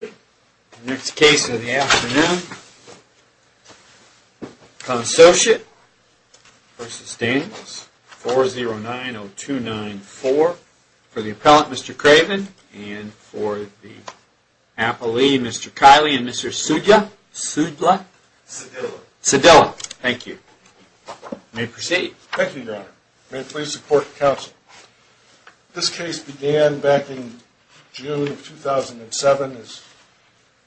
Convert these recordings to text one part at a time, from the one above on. The next case of the afternoon, Consociate v. Daniels, 4090294, for the appellant, Mr. Craven, and for the appellee, Mr. Kiley, and Mr. Sudeja, Sudejla, Sudejla. Thank you. You may proceed. Thank you, Your Honor. May it please support the counsel. This case began back in June of 2007 as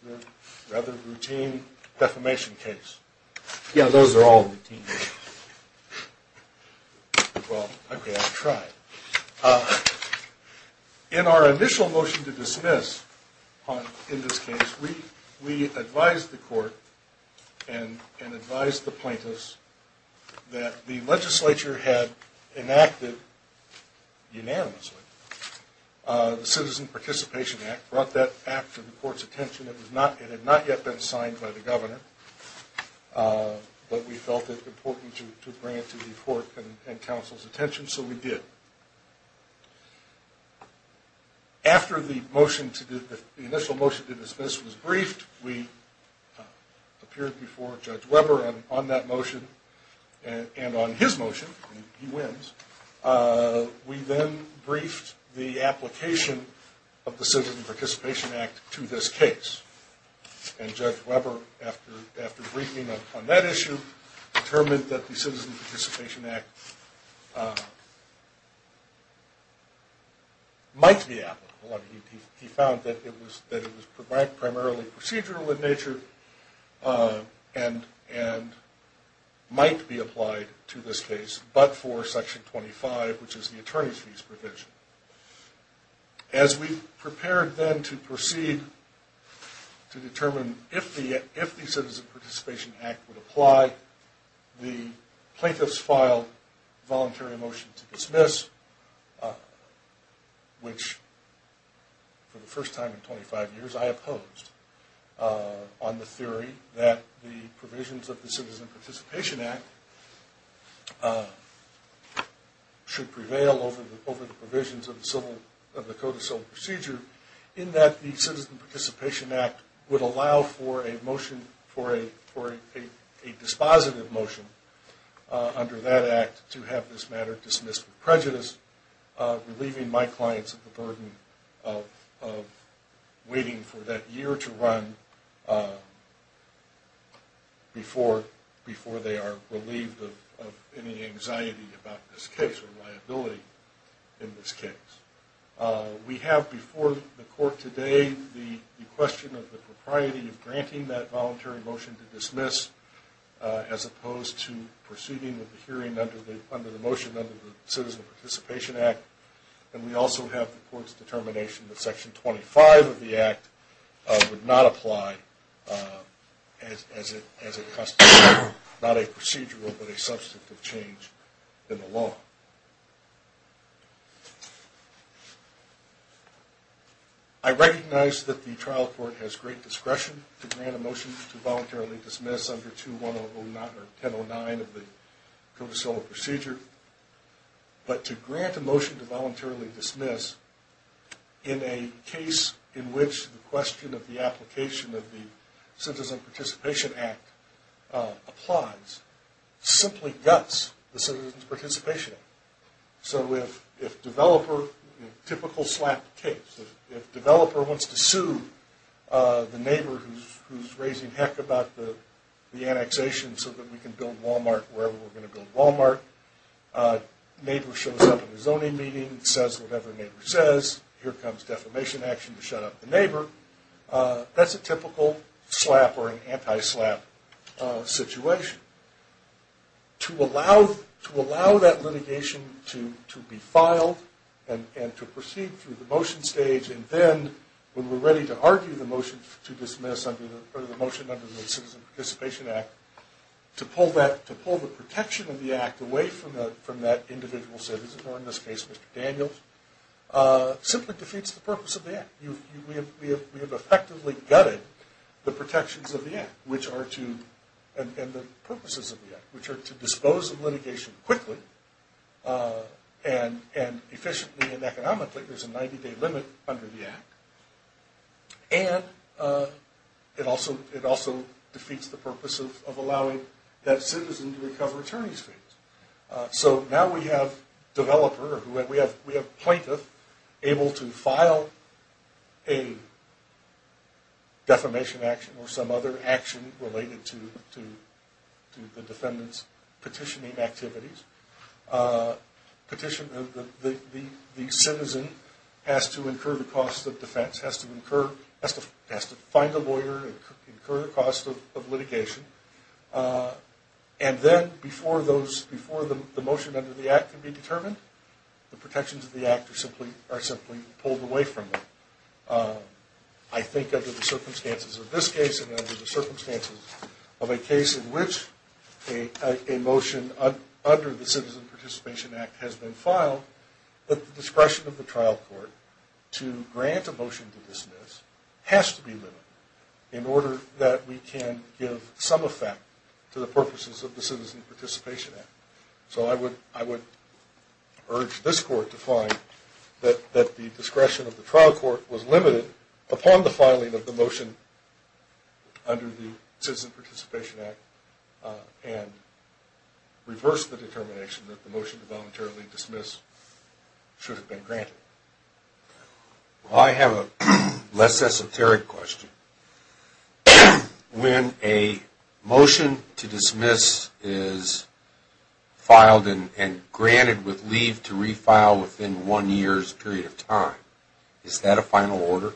a rather routine defamation case. Yeah, those are all routine cases. Well, okay, I'll try. In our initial motion to dismiss in this case, we advised the court and advised the plaintiffs that the legislature had enacted unanimously the Citizen Participation Act, brought that act to the court's attention. It had not yet been signed by the governor, but we felt it important to bring it to the court and counsel's attention, so we did. After the initial motion to dismiss was briefed, we appeared before Judge Weber on that motion, and on his motion, he wins, we then briefed the application of the Citizen Participation Act to this case. And Judge Weber, after briefing on that issue, determined that the Citizen Participation Act might be applicable. He found that it was primarily procedural in nature and might be applied to this case, but for Section 25, which is the attorney's fees provision. As we prepared then to proceed to determine if the Citizen Participation Act would apply, the plaintiffs filed a voluntary motion to dismiss, which, for the first time in 25 years, I opposed, on the theory that the provisions of the Citizen Participation Act should prevail over the provisions of the Code of Civil Procedure, in that the Citizen Participation Act would allow for a dispositive motion under that act to have this matter dismissed with prejudice, relieving my clients of the burden of waiting for that year to run before they are relieved of any anxiety about this case or liability in this case. We have before the court today the question of the propriety of granting that voluntary motion to dismiss, as opposed to proceeding with the hearing under the motion under the Citizen Participation Act. And we also have the court's determination that Section 25 of the Act would not apply as it constitutes not a procedural but a substantive change in the law. I recognize that the trial court has great discretion to grant a motion to voluntarily dismiss under 2109 of the Code of Civil Procedure, but to grant a motion to voluntarily dismiss in a case in which the question of the application of the Citizen Participation Act applies simply guts the Citizen Participation Act. So if a developer wants to sue the neighbor who's raising heck about the annexation so that we can build Walmart wherever we're going to build Walmart, the neighbor shows up at a zoning meeting, says whatever the neighbor says, here comes defamation action to shut up the neighbor, that's a typical slap or an anti-slap situation. To allow that litigation to be filed and to proceed through the motion stage and then when we're ready to argue the motion to dismiss under the Citizen Participation Act, to pull the protection of the Act away from that individual citizen, or in this case Mr. Daniels, simply defeats the purpose of the Act. We have effectively gutted the protections of the Act and the purposes of the Act, which are to dispose of litigation quickly and efficiently and economically. There's a 90-day limit under the Act. And it also defeats the purpose of allowing that citizen to recover attorney's fees. So now we have developer, we have plaintiff able to file a defamation action or some other action related to the defendant's petitioning activities. The citizen has to incur the cost of defense, has to find a lawyer, incur the cost of litigation. And then before the motion under the Act can be determined, the protections of the Act are simply pulled away from them. I think under the circumstances of this case and under the circumstances of a case in which a motion under the Citizen Participation Act has been filed, that the discretion of the trial court to grant a motion to dismiss has to be limited in order that we can give some effect to the purposes of the Citizen Participation Act. So I would urge this court to find that the discretion of the trial court was limited upon the filing of the motion under the Citizen Participation Act and reverse the determination that the motion to voluntarily dismiss should have been granted. I have a less esoteric question. When a motion to dismiss is filed and granted with leave to refile within one year's period of time, is that a final order?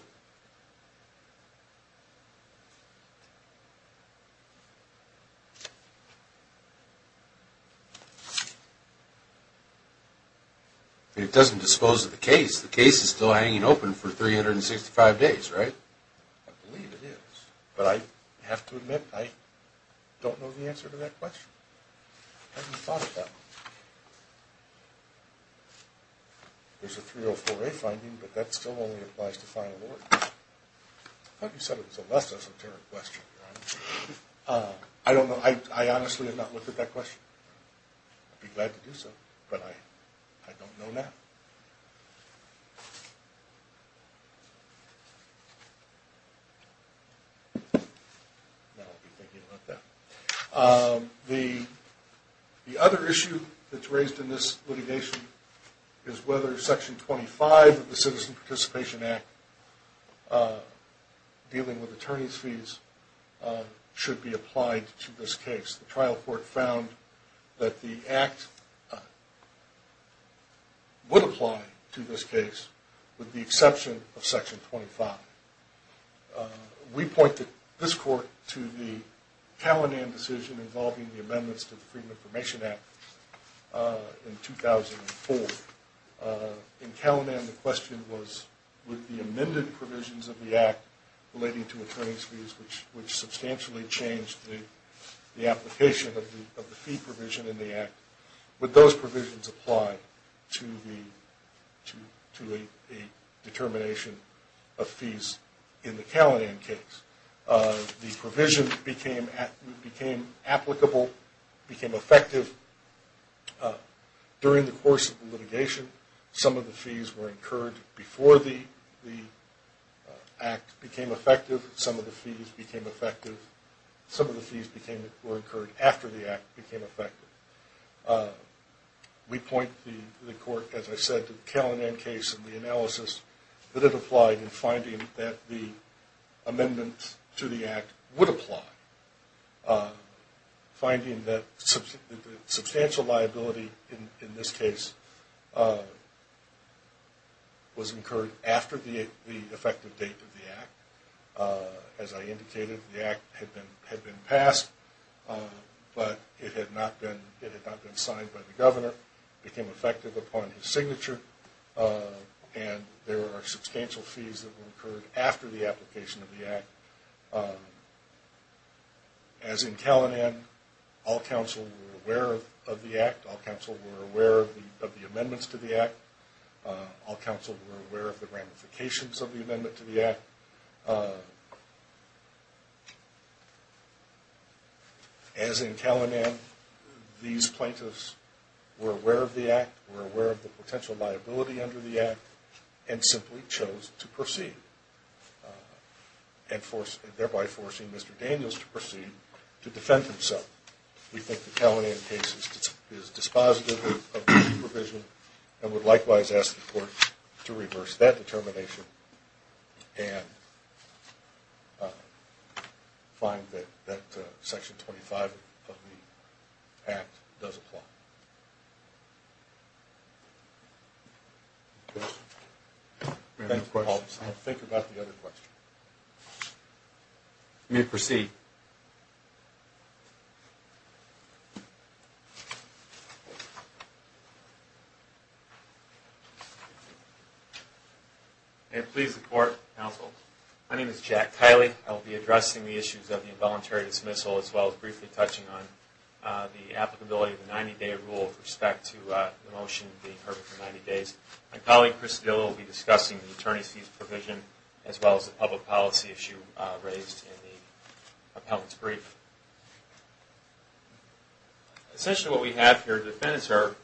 It doesn't dispose of the case. The case is still hanging open for 365 days, right? I believe it is, but I have to admit I don't know the answer to that question. I haven't thought about it. There's a 304A finding, but that still only applies to final orders. I thought you said it was a less esoteric question. I honestly have not looked at that question. I'd be glad to do so, but I don't know that. The other issue that's raised in this litigation is whether Section 25 of the Citizen Participation Act, dealing with attorney's fees, should be applied to this case. The trial court found that the Act would apply to this case with the exception of Section 25. We pointed this court to the Calinan decision involving the amendments to the Freedom of Information Act in 2004. In Calinan, the question was, would the amended provisions of the Act relating to attorney's fees, which substantially changed the application of the fee provision in the Act, would those provisions apply to a determination of fees in the Calinan case? The provision became applicable, became effective during the course of the litigation. Some of the fees were incurred before the Act became effective. Some of the fees became effective. Some of the fees were incurred after the Act became effective. We point the court, as I said, to the Calinan case and the analysis that it applied in finding that the amendments to the Act would apply. Finding that substantial liability in this case was incurred after the effective date of the Act. As I indicated, the Act had been passed, but it had not been signed by the governor. It became effective upon his signature, and there were substantial fees that were incurred after the application of the Act. As in Calinan, all counsel were aware of the Act. All counsel were aware of the amendments to the Act. All counsel were aware of the ramifications of the amendment to the Act. As in Calinan, these plaintiffs were aware of the Act, were aware of the potential liability under the Act, and simply chose to proceed, thereby forcing Mr. Daniels to proceed to defend himself. We think the Calinan case is dispositive of this provision, and would likewise ask the court to reverse that determination and find that Section 25 of the Act does apply. I'll think about the other questions. I'm going to proceed. May it please the Court, counsel. My name is Jack Kiley. I'll be addressing the issues of the involuntary dismissal as well as briefly touching on the applicability of the 90-day rule with respect to the motion being heard for 90 days. My colleague Chris Dill will be discussing the attorney's fees provision as well as the public policy issue raised in the appellant's brief. Essentially what we have here, defendants are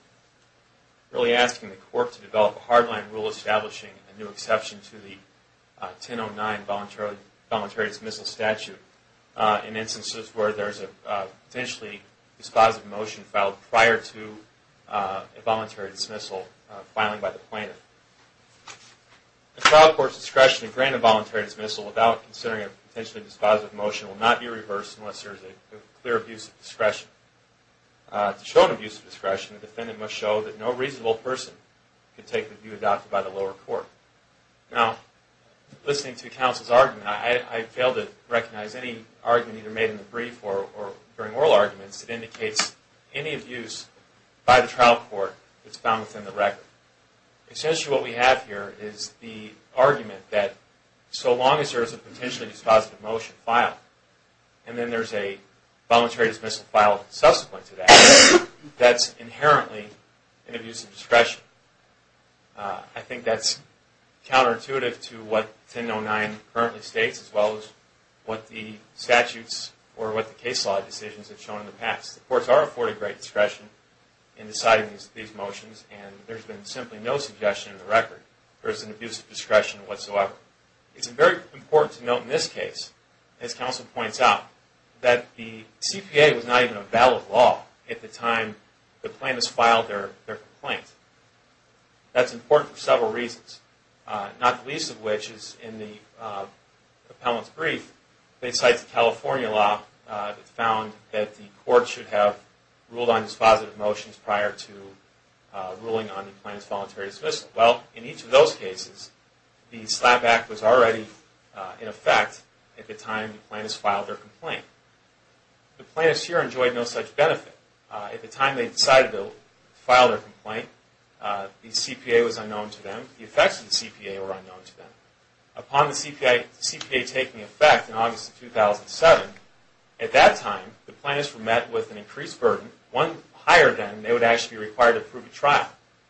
really asking the court to develop a hardline rule establishing a new exception to the 1009 involuntary dismissal statute in instances where there is a potentially dispositive motion filed prior to a voluntary dismissal filing by the plaintiff. The trial court's discretion to grant a voluntary dismissal without considering a potentially dispositive motion will not be reversed unless there is a clear abuse of discretion. To show an abuse of discretion, the defendant must show that no reasonable person could take the view adopted by the lower court. Now, listening to counsel's argument, I fail to recognize any argument either made in the brief or during oral arguments that indicates any abuse by the trial court that's found within the record. Essentially what we have here is the argument that so long as there is a potentially dispositive motion filed and then there is a voluntary dismissal filed subsequent to that, that's inherently an abuse of discretion. I think that's counterintuitive to what 1009 currently states as well as what the statutes or what the case law decisions have shown in the past. The courts are afforded great discretion in deciding these motions and there's been simply no suggestion in the record that there is an abuse of discretion whatsoever. It's very important to note in this case, as counsel points out, that the CPA was not even a valid law at the time the plaintiff filed their complaint. That's important for several reasons, not the least of which is in the appellant's brief. They cite the California law that found that the court should have ruled on dispositive motions prior to ruling on the plaintiff's voluntary dismissal. Well, in each of those cases, the slap back was already in effect at the time the plaintiffs filed their complaint. The plaintiffs here enjoyed no such benefit. At the time they decided to file their complaint, the CPA was unknown to them. The effects of the CPA were unknown to them. Upon the CPA taking effect in August of 2007, at that time the plaintiffs were met with an increased burden, one higher than they would actually be required to prove at trial.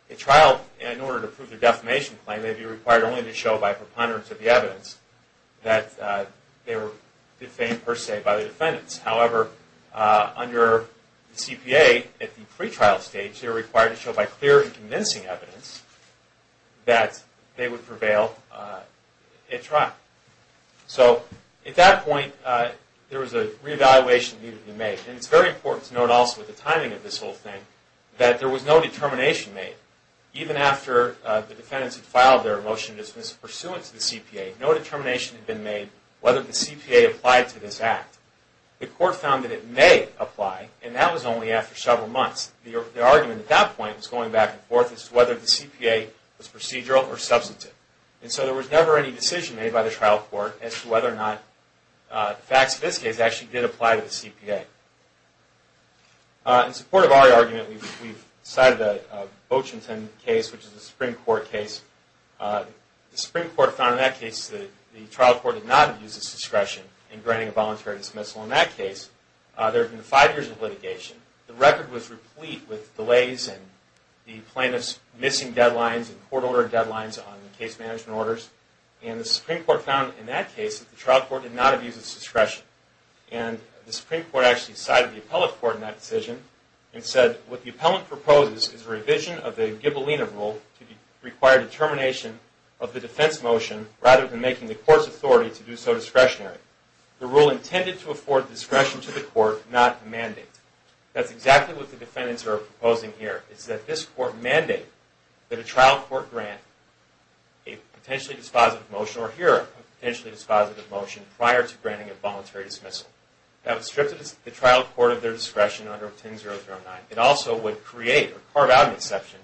At trial, in order to prove their defamation claim, they would be required only to show by preponderance of the evidence that they were defamed per se by the defendants. However, under the CPA, at the pretrial stage, they were required to show by clear and convincing evidence that they would prevail at trial. So, at that point, there was a reevaluation that needed to be made. It's very important to note also, with the timing of this whole thing, that there was no determination made. Even after the defendants had filed their motion of dismissal pursuant to the CPA, no determination had been made whether the CPA applied to this act. The court found that it may apply, and that was only after several months. The argument at that point was going back and forth as to whether the CPA was procedural or substantive. So, there was never any decision made by the trial court as to whether or not the facts of this case actually did apply to the CPA. In support of our argument, we decided a Bochenten case, which is a Supreme Court case. The Supreme Court found in that case that the trial court did not use its discretion in granting a voluntary dismissal. In that case, there had been five years of litigation. The record was replete with delays and the plaintiff's missing deadlines and court order deadlines on case management orders. And the Supreme Court found in that case that the trial court did not abuse its discretion. And the Supreme Court actually sided with the appellate court in that decision and said, what the appellant proposes is a revision of the Gibellina rule to require determination of the defense motion, rather than making the court's authority to do so discretionary. The rule intended to afford discretion to the court, not a mandate. That's exactly what the defendants are proposing here. It's that this court mandate that a trial court grant a potentially dispositive motion, or hear a potentially dispositive motion prior to granting a voluntary dismissal. That would strip the trial court of their discretion under 10-009. It also would create or carve out an exception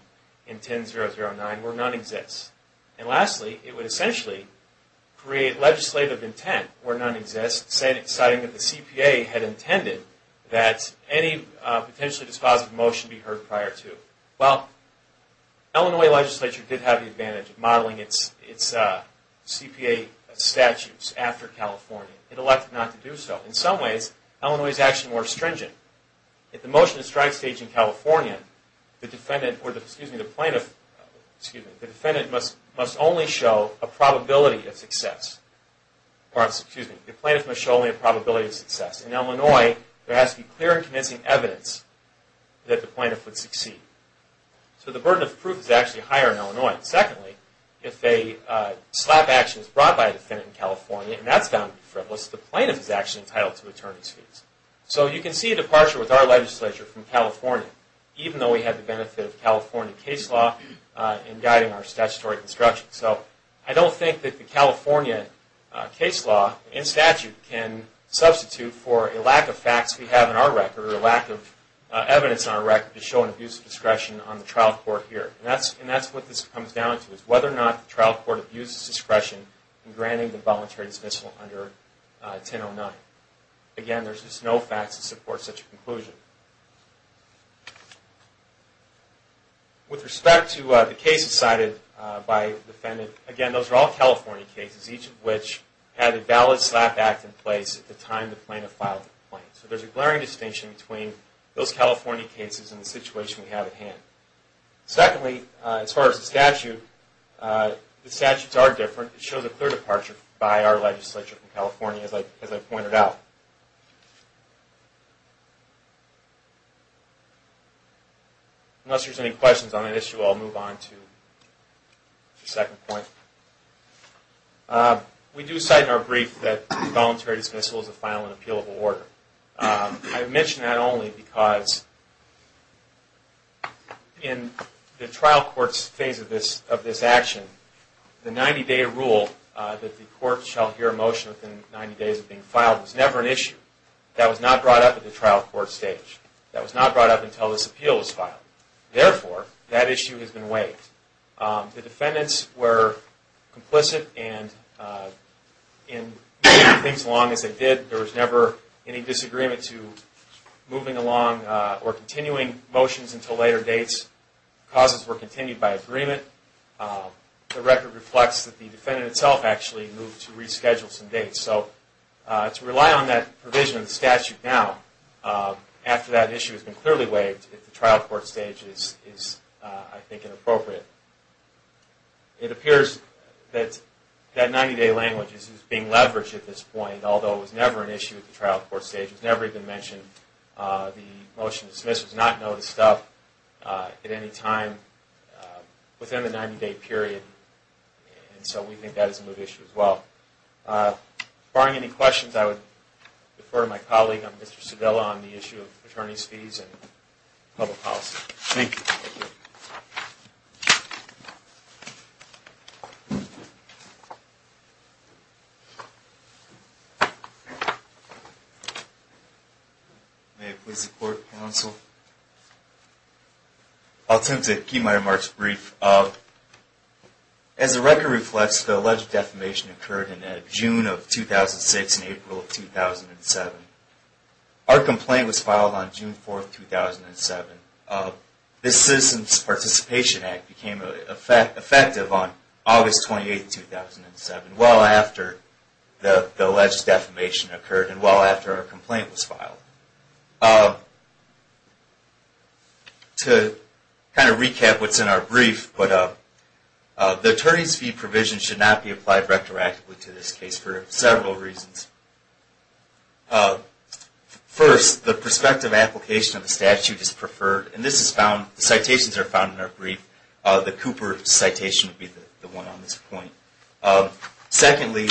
in 10-009 where none exists. And lastly, it would essentially create legislative intent where none exists, citing that the CPA had intended that any potentially dispositive motion be heard prior to. Well, Illinois legislature did have the advantage of modeling its CPA statutes after California. It elected not to do so. In some ways, Illinois is actually more stringent. At the motion to strike stage in California, the defendant must only show a probability of success. The plaintiff must show only a probability of success. In Illinois, there has to be clear and convincing evidence that the plaintiff would succeed. So the burden of proof is actually higher in Illinois. Secondly, if a slap action is brought by a defendant in California, and that's found to be frivolous, the plaintiff is actually entitled to attorney's fees. So you can see a departure with our legislature from California, even though we had the benefit of California case law in guiding our statutory construction. So I don't think that the California case law and statute can substitute for a lack of facts we have in our record or a lack of evidence on our record to show an abuse of discretion on the trial court here. And that's what this comes down to, is whether or not the trial court abuses discretion in granting the voluntary dismissal under 10-009. Again, there's just no facts to support such a conclusion. With respect to the cases cited by the defendant, again, those are all California cases, each of which had a valid slap act in place at the time the plaintiff filed the claim. So there's a glaring distinction between those California cases and the situation we have at hand. Secondly, as far as the statute, the statutes are different. It shows a clear departure by our legislature from California, as I pointed out. Unless there's any questions on that issue, I'll move on to the second point. We do cite in our brief that voluntary dismissal is a final and appealable order. I mention that only because in the trial court's phase of this action, the 90-day rule that the court shall hear a motion within 90 days of being filed was never an issue. That was not brought up at the trial court stage. That was not brought up until this appeal was filed. Therefore, that issue has been waived. The defendants were complicit, and in moving things along as they did, there was never any disagreement to moving along or continuing motions until later dates. Causes were continued by agreement. The record reflects that the defendant itself actually moved to reschedule some dates. So to rely on that provision of the statute now, after that issue has been clearly waived, at the trial court stage is, I think, inappropriate. It appears that that 90-day language is being leveraged at this point, although it was never an issue at the trial court stage. It was never even mentioned. The motion dismissed was not noticed up at any time within the 90-day period, and so we think that is a moot issue as well. Barring any questions, I would defer to my colleague, Mr. Cedillo, on the issue of attorney's fees and public policy. Thank you. May it please the Court, Counsel. I'll attempt to keep my remarks brief. As the record reflects, the alleged defamation occurred in June of 2006 and April of 2007. Our complaint was filed on June 4, 2007. This Citizens Participation Act became effective on August 28, 2007, well after the alleged defamation occurred and well after our complaint was filed. To kind of recap what's in our brief, the attorney's fee provision should not be applied retroactively to this case for several reasons. First, the prospective application of the statute is preferred, and this is found, citations are found in our brief. The Cooper citation would be the one on this point. Secondly,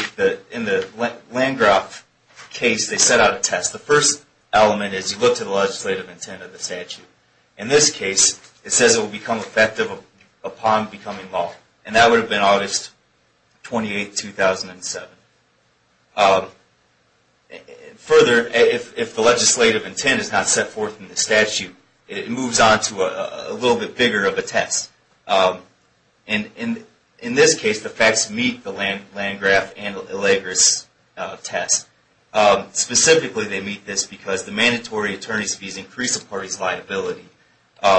in the Landgraf case, they set out a test. The first element is you look to the legislative intent of the statute. In this case, it says it will become effective upon becoming law, and that would have been August 28, 2007. Further, if the legislative intent is not set forth in the statute, it moves on to a little bit bigger of a test. In this case, the facts meet the Landgraf and Allegres test. Specifically, they meet this because the mandatory attorney's fees increase a party's liability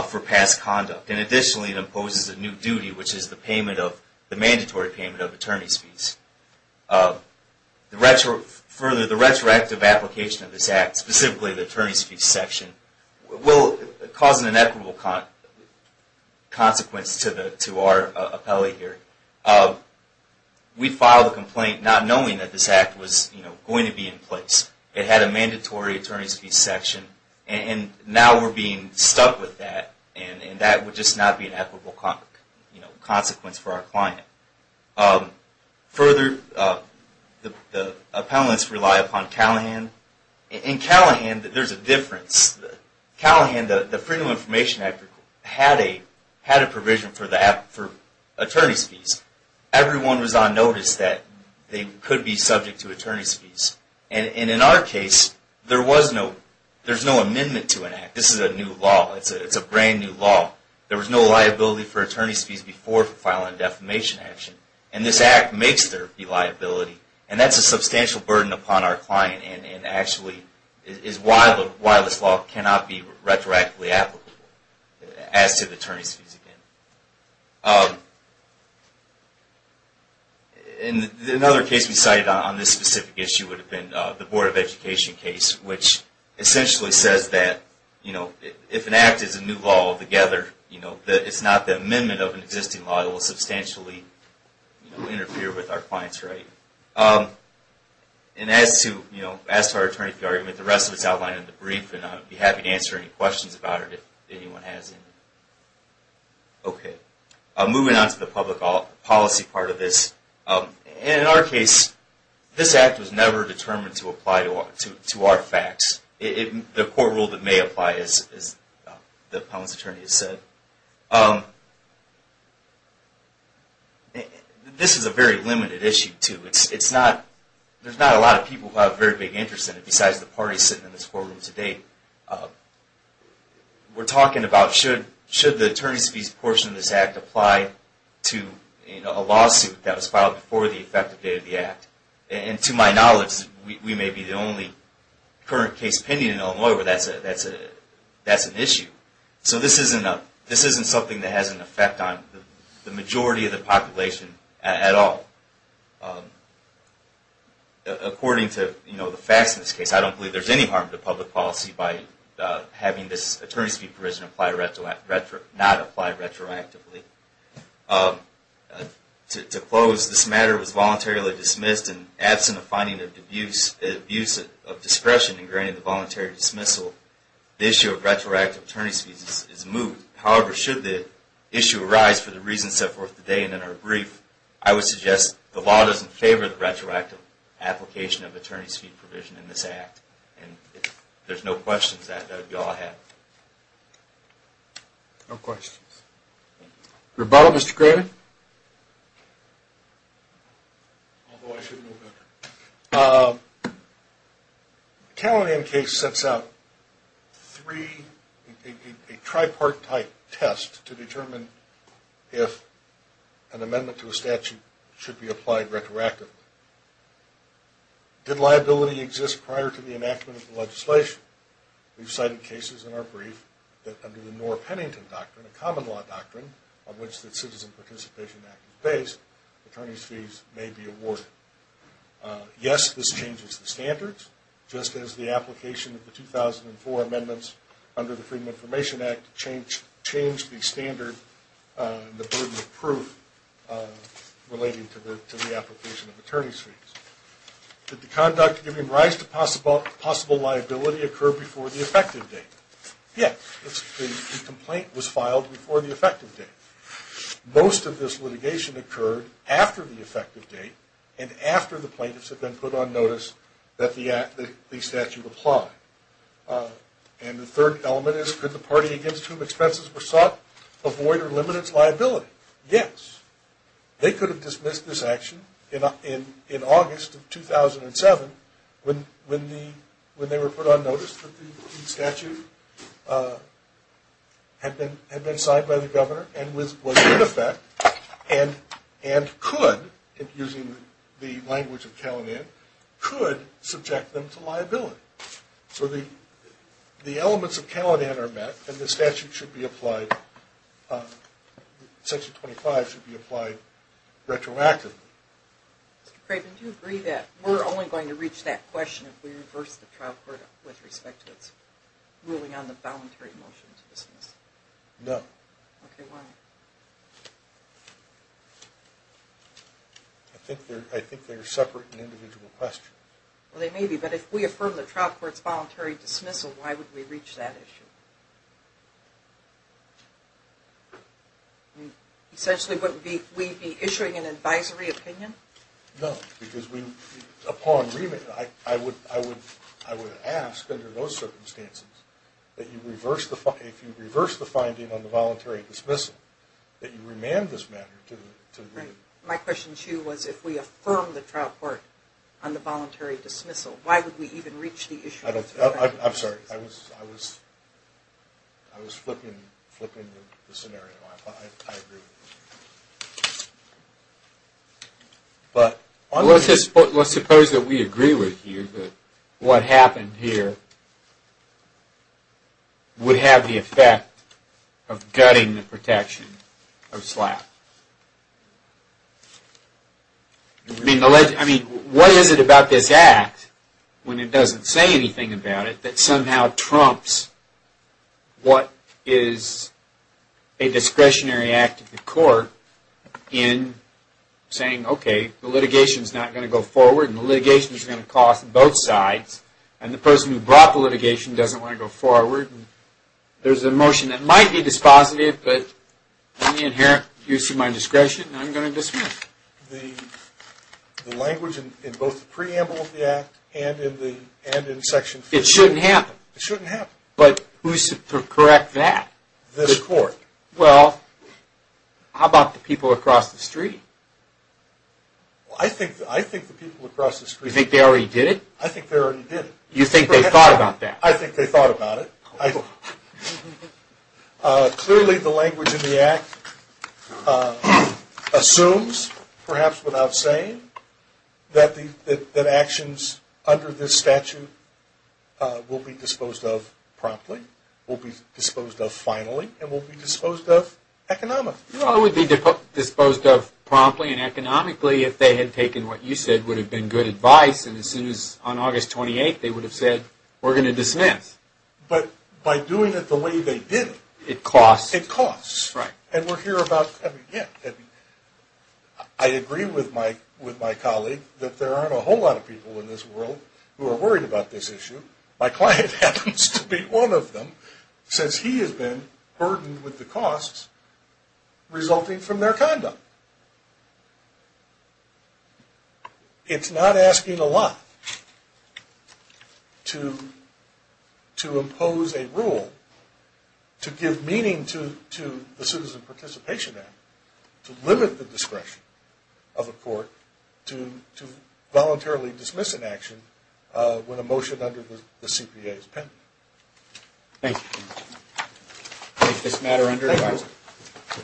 for past conduct. Additionally, it imposes a new duty, which is the mandatory payment of attorney's fees. Further, the retroactive application of this act, specifically the attorney's fees section, will cause an inequitable consequence to our appellee here. We filed a complaint not knowing that this act was going to be in place. It had a mandatory attorney's fees section, and now we're being stuck with that, and that would just not be an equitable consequence for our client. Further, the appellants rely upon Callahan. In Callahan, there's a difference. In Callahan, the Freedom of Information Act had a provision for attorney's fees. Everyone was on notice that they could be subject to attorney's fees. In our case, there's no amendment to an act. This is a new law. It's a brand new law. There was no liability for attorney's fees before filing a defamation action, and this act makes there be liability, and that's a substantial burden upon our client, and actually is why this law cannot be retroactively applicable as to the attorney's fees again. Another case we cited on this specific issue would have been the Board of Education case, which essentially says that if an act is a new law altogether, it's not the amendment of an existing law, it will substantially interfere with our client's right. As to our attorney's fee argument, the rest of it is outlined in the brief, and I would be happy to answer any questions about it if anyone has any. Moving on to the public policy part of this, in our case, this act was never determined to apply to our facts. The court rule that may apply, as the appellant's attorney has said. This is a very limited issue, too. There's not a lot of people who have very big interests in it, besides the parties sitting in this courtroom today. We're talking about should the attorney's fees portion of this act apply to a lawsuit that was filed before the effective date of the act. And to my knowledge, we may be the only current case pending in Illinois where that's an issue. So this isn't something that has an effect on the majority of the population at all. According to the facts in this case, I don't believe there's any harm to public policy by having this attorney's fee provision not apply retroactively. To close, this matter was voluntarily dismissed, and absent a finding of abuse of discretion in granting the voluntary dismissal, the issue of retroactive attorney's fees is moved. However, should the issue arise for the reasons set forth today and in our brief, I would suggest the law doesn't favor the retroactive application of attorney's fee provision in this act. And if there's no questions, that would be all I have. No questions. Rebuttal, Mr. Craven? Although I should move it. The Calinam case sets out three, a tripartite test to determine if an amendment to a statute should be applied retroactively. Did liability exist prior to the enactment of the legislation? We've cited cases in our brief that under the Noor-Pennington Doctrine, a common law doctrine on which the Citizen Participation Act is based, attorney's fees may be awarded. Yes, this changes the standards, just as the application of the 2004 amendments under the Freedom of Information Act changed the standard and the burden of proof relating to the application of attorney's fees. Did the conduct giving rise to possible liability occur before the effective date? Yes, the complaint was filed before the effective date. Most of this litigation occurred after the effective date, and after the plaintiffs had been put on notice that the statute applied. And the third element is, could the party against whom expenses were sought avoid or limit its liability? Yes. They could have dismissed this action in August of 2007 when they were put on notice that the statute had been signed by the governor and was in effect, and could, using the language of Caledon, could subject them to liability. So the elements of Caledon are met, and the statute should be applied, Section 25 should be applied retroactively. Mr. Craven, do you agree that we're only going to reach that question if we reverse the trial court with respect to its ruling on the voluntary motion to dismiss? No. Okay, why? I think they're separate and individual questions. Well, they may be, but if we affirm the trial court's voluntary dismissal, why would we reach that issue? Essentially, would we be issuing an advisory opinion? No, because upon remit, I would ask, under those circumstances, that if you reverse the finding on the voluntary dismissal, that you remand this matter to the reading. My question to you was, if we affirm the trial court on the voluntary dismissal, why would we even reach the issue? I'm sorry. I was flipping the scenario. I agree. But let's suppose that we agree with you that what happened here would have the effect of gutting the protection of SLAP. I mean, what is it about this act, when it doesn't say anything about it, that somehow trumps what is a discretionary act of the court in saying, okay, the litigation is not going to go forward, and the litigation is going to cost both sides, and the person who brought the litigation doesn't want to go forward. There's a motion that might be dispositive, but in the inherent use of my discretion, I'm going to dismiss. The language in both the preamble of the act and in Section 50. It shouldn't happen. It shouldn't happen. But who's to correct that? The court. Well, how about the people across the street? I think the people across the street. You think they already did it? I think they already did it. You think they thought about that? I think they thought about it. Clearly, the language in the act assumes, perhaps without saying, that actions under this statute will be disposed of promptly, will be disposed of finally, and will be disposed of economically. Well, it would be disposed of promptly and economically if they had taken what you said would have been good advice, and as soon as on August 28th, they would have said, we're going to dismiss. But by doing it the way they did it. It costs. It costs. Right. I agree with my colleague that there aren't a whole lot of people in this world who are worried about this issue. My client happens to be one of them, since he has been burdened with the costs resulting from their conduct. It's not asking a lot to impose a rule, to give meaning to the Citizen Participation Act, to limit the discretion of a court to voluntarily dismiss an action when a motion under the CPA is pending. Thank you. I take this matter under advice. Thank you.